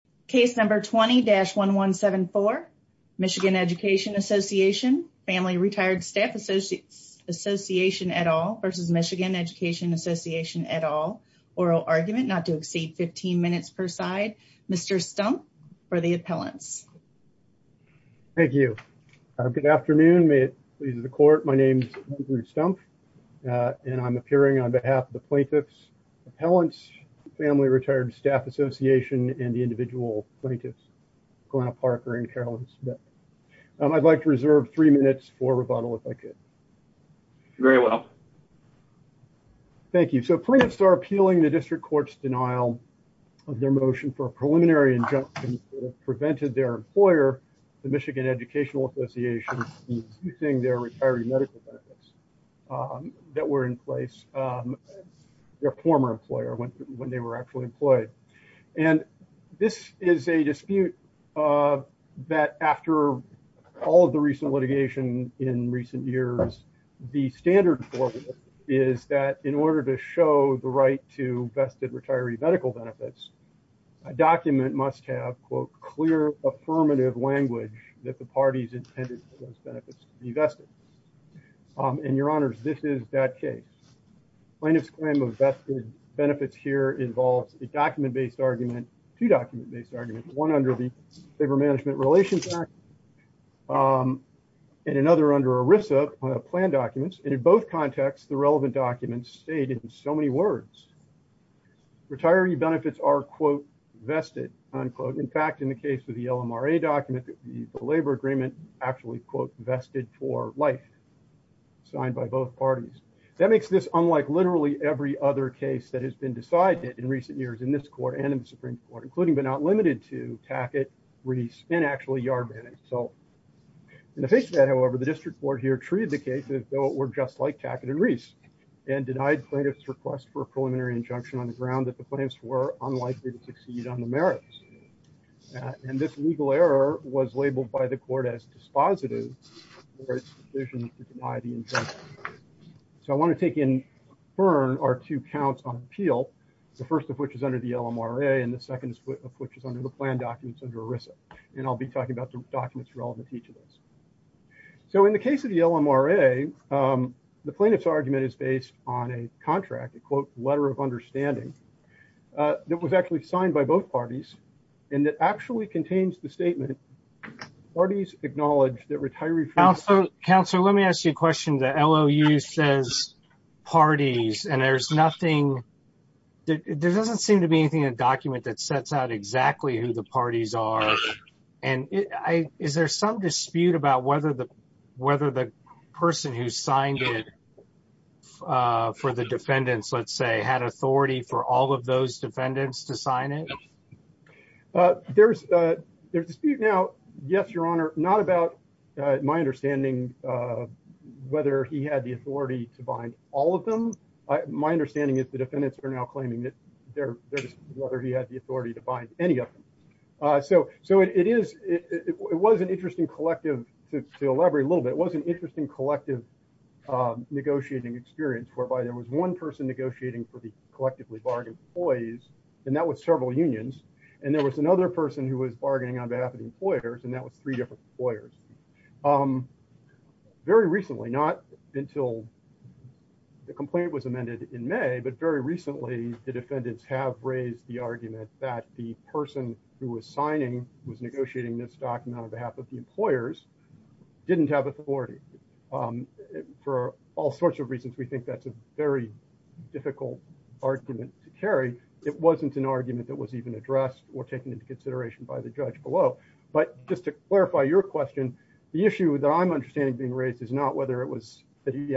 Case number 20-1174. Michigan Education Association, Family Retired Staff Association et al versus Michigan Education Association et al. Oral argument not to exceed 15 minutes per side. Mr. Stumpf for the appellants. Thank you. Good afternoon. May it please the court. My name is Andrew Stumpf and I'm appearing on behalf of the plaintiff's appellants, Family Retired Staff Association and the individual plaintiffs, Glenna Parker and Carolyn Smith. I'd like to reserve three minutes for rebuttal if I could. Very well. Thank you. So plaintiffs are appealing the district court's denial of their motion for a preliminary injunction that prevented their employer, the Michigan Educational Association, using their retiree medical benefits that were in place, their former employer when they were actually employed. And this is a dispute that after all of the recent litigation in recent years, the standard for it is that in order to show the right to vested retiree medical benefits, a document must have, quote, clear affirmative language that the parties intended for those benefits to be vested. And your honors, this is that case. Plaintiff's claim of vested benefits here involves a document-based argument, two document-based arguments, one under the Labor Management Relations Act and another under ERISA plan documents. And in both contexts, the relevant documents stayed in so many words. Retiree benefits are, quote, vested, unquote. In fact, in the case of the LMRA document, the labor agreement actually, quote, vested for life signed by both parties. That makes this unlike literally every other case that has been decided in recent years in this court and in the Supreme Court, including but not limited to Tackett, Reese and actually Yarbanek. So in the face of that, however, the district court here treated the case as though it were just like Tackett and Reese and denied plaintiff's request for a preliminary injunction on the ground that the plaintiffs were unlikely to succeed on the merits. And this legal error was labeled by the court as dispositive for its decision to deny the injunction. So I want to take in, burn our two counts on appeal. The first of which is under the LMRA and the second of which is under the plan documents under ERISA. And I'll be talking about the documents relevant to each of those. So in the case of the LMRA, the plaintiff's argument is based on a contract, a quote, letter of understanding that was actually signed by both parties. And it actually contains the statement, parties acknowledge that retirees- Councilor, let me ask you a question. The LOU says parties and there's nothing, there doesn't seem to be anything in the document that sets out exactly who the parties are. And is there some dispute about whether the person who signed it for the defendants, let's say, had authority for all of those defendants to sign it? There's a dispute now. Yes, Your Honor, not about my understanding whether he had the authority to bind all of them. My understanding is the defendants are now claiming that there's whether he had the authority to bind any of them. So it was an interesting collective, to elaborate a little bit, it was an interesting collective negotiating experience whereby there was one person negotiating for the collectively bargained employees and that was several unions. And there was another person who was bargaining on behalf of the employers and that was three different employers. Very recently, not until the complaint was amended in May, but very recently, the defendants have raised the argument that the person who was signing, was negotiating this document on behalf of the employers, didn't have authority. For all sorts of reasons, we think that's a very difficult argument to carry. It wasn't an argument that was even addressed or taken into consideration by the judge, but just to clarify your question, the issue that I'm understanding being raised is not whether it was that he had.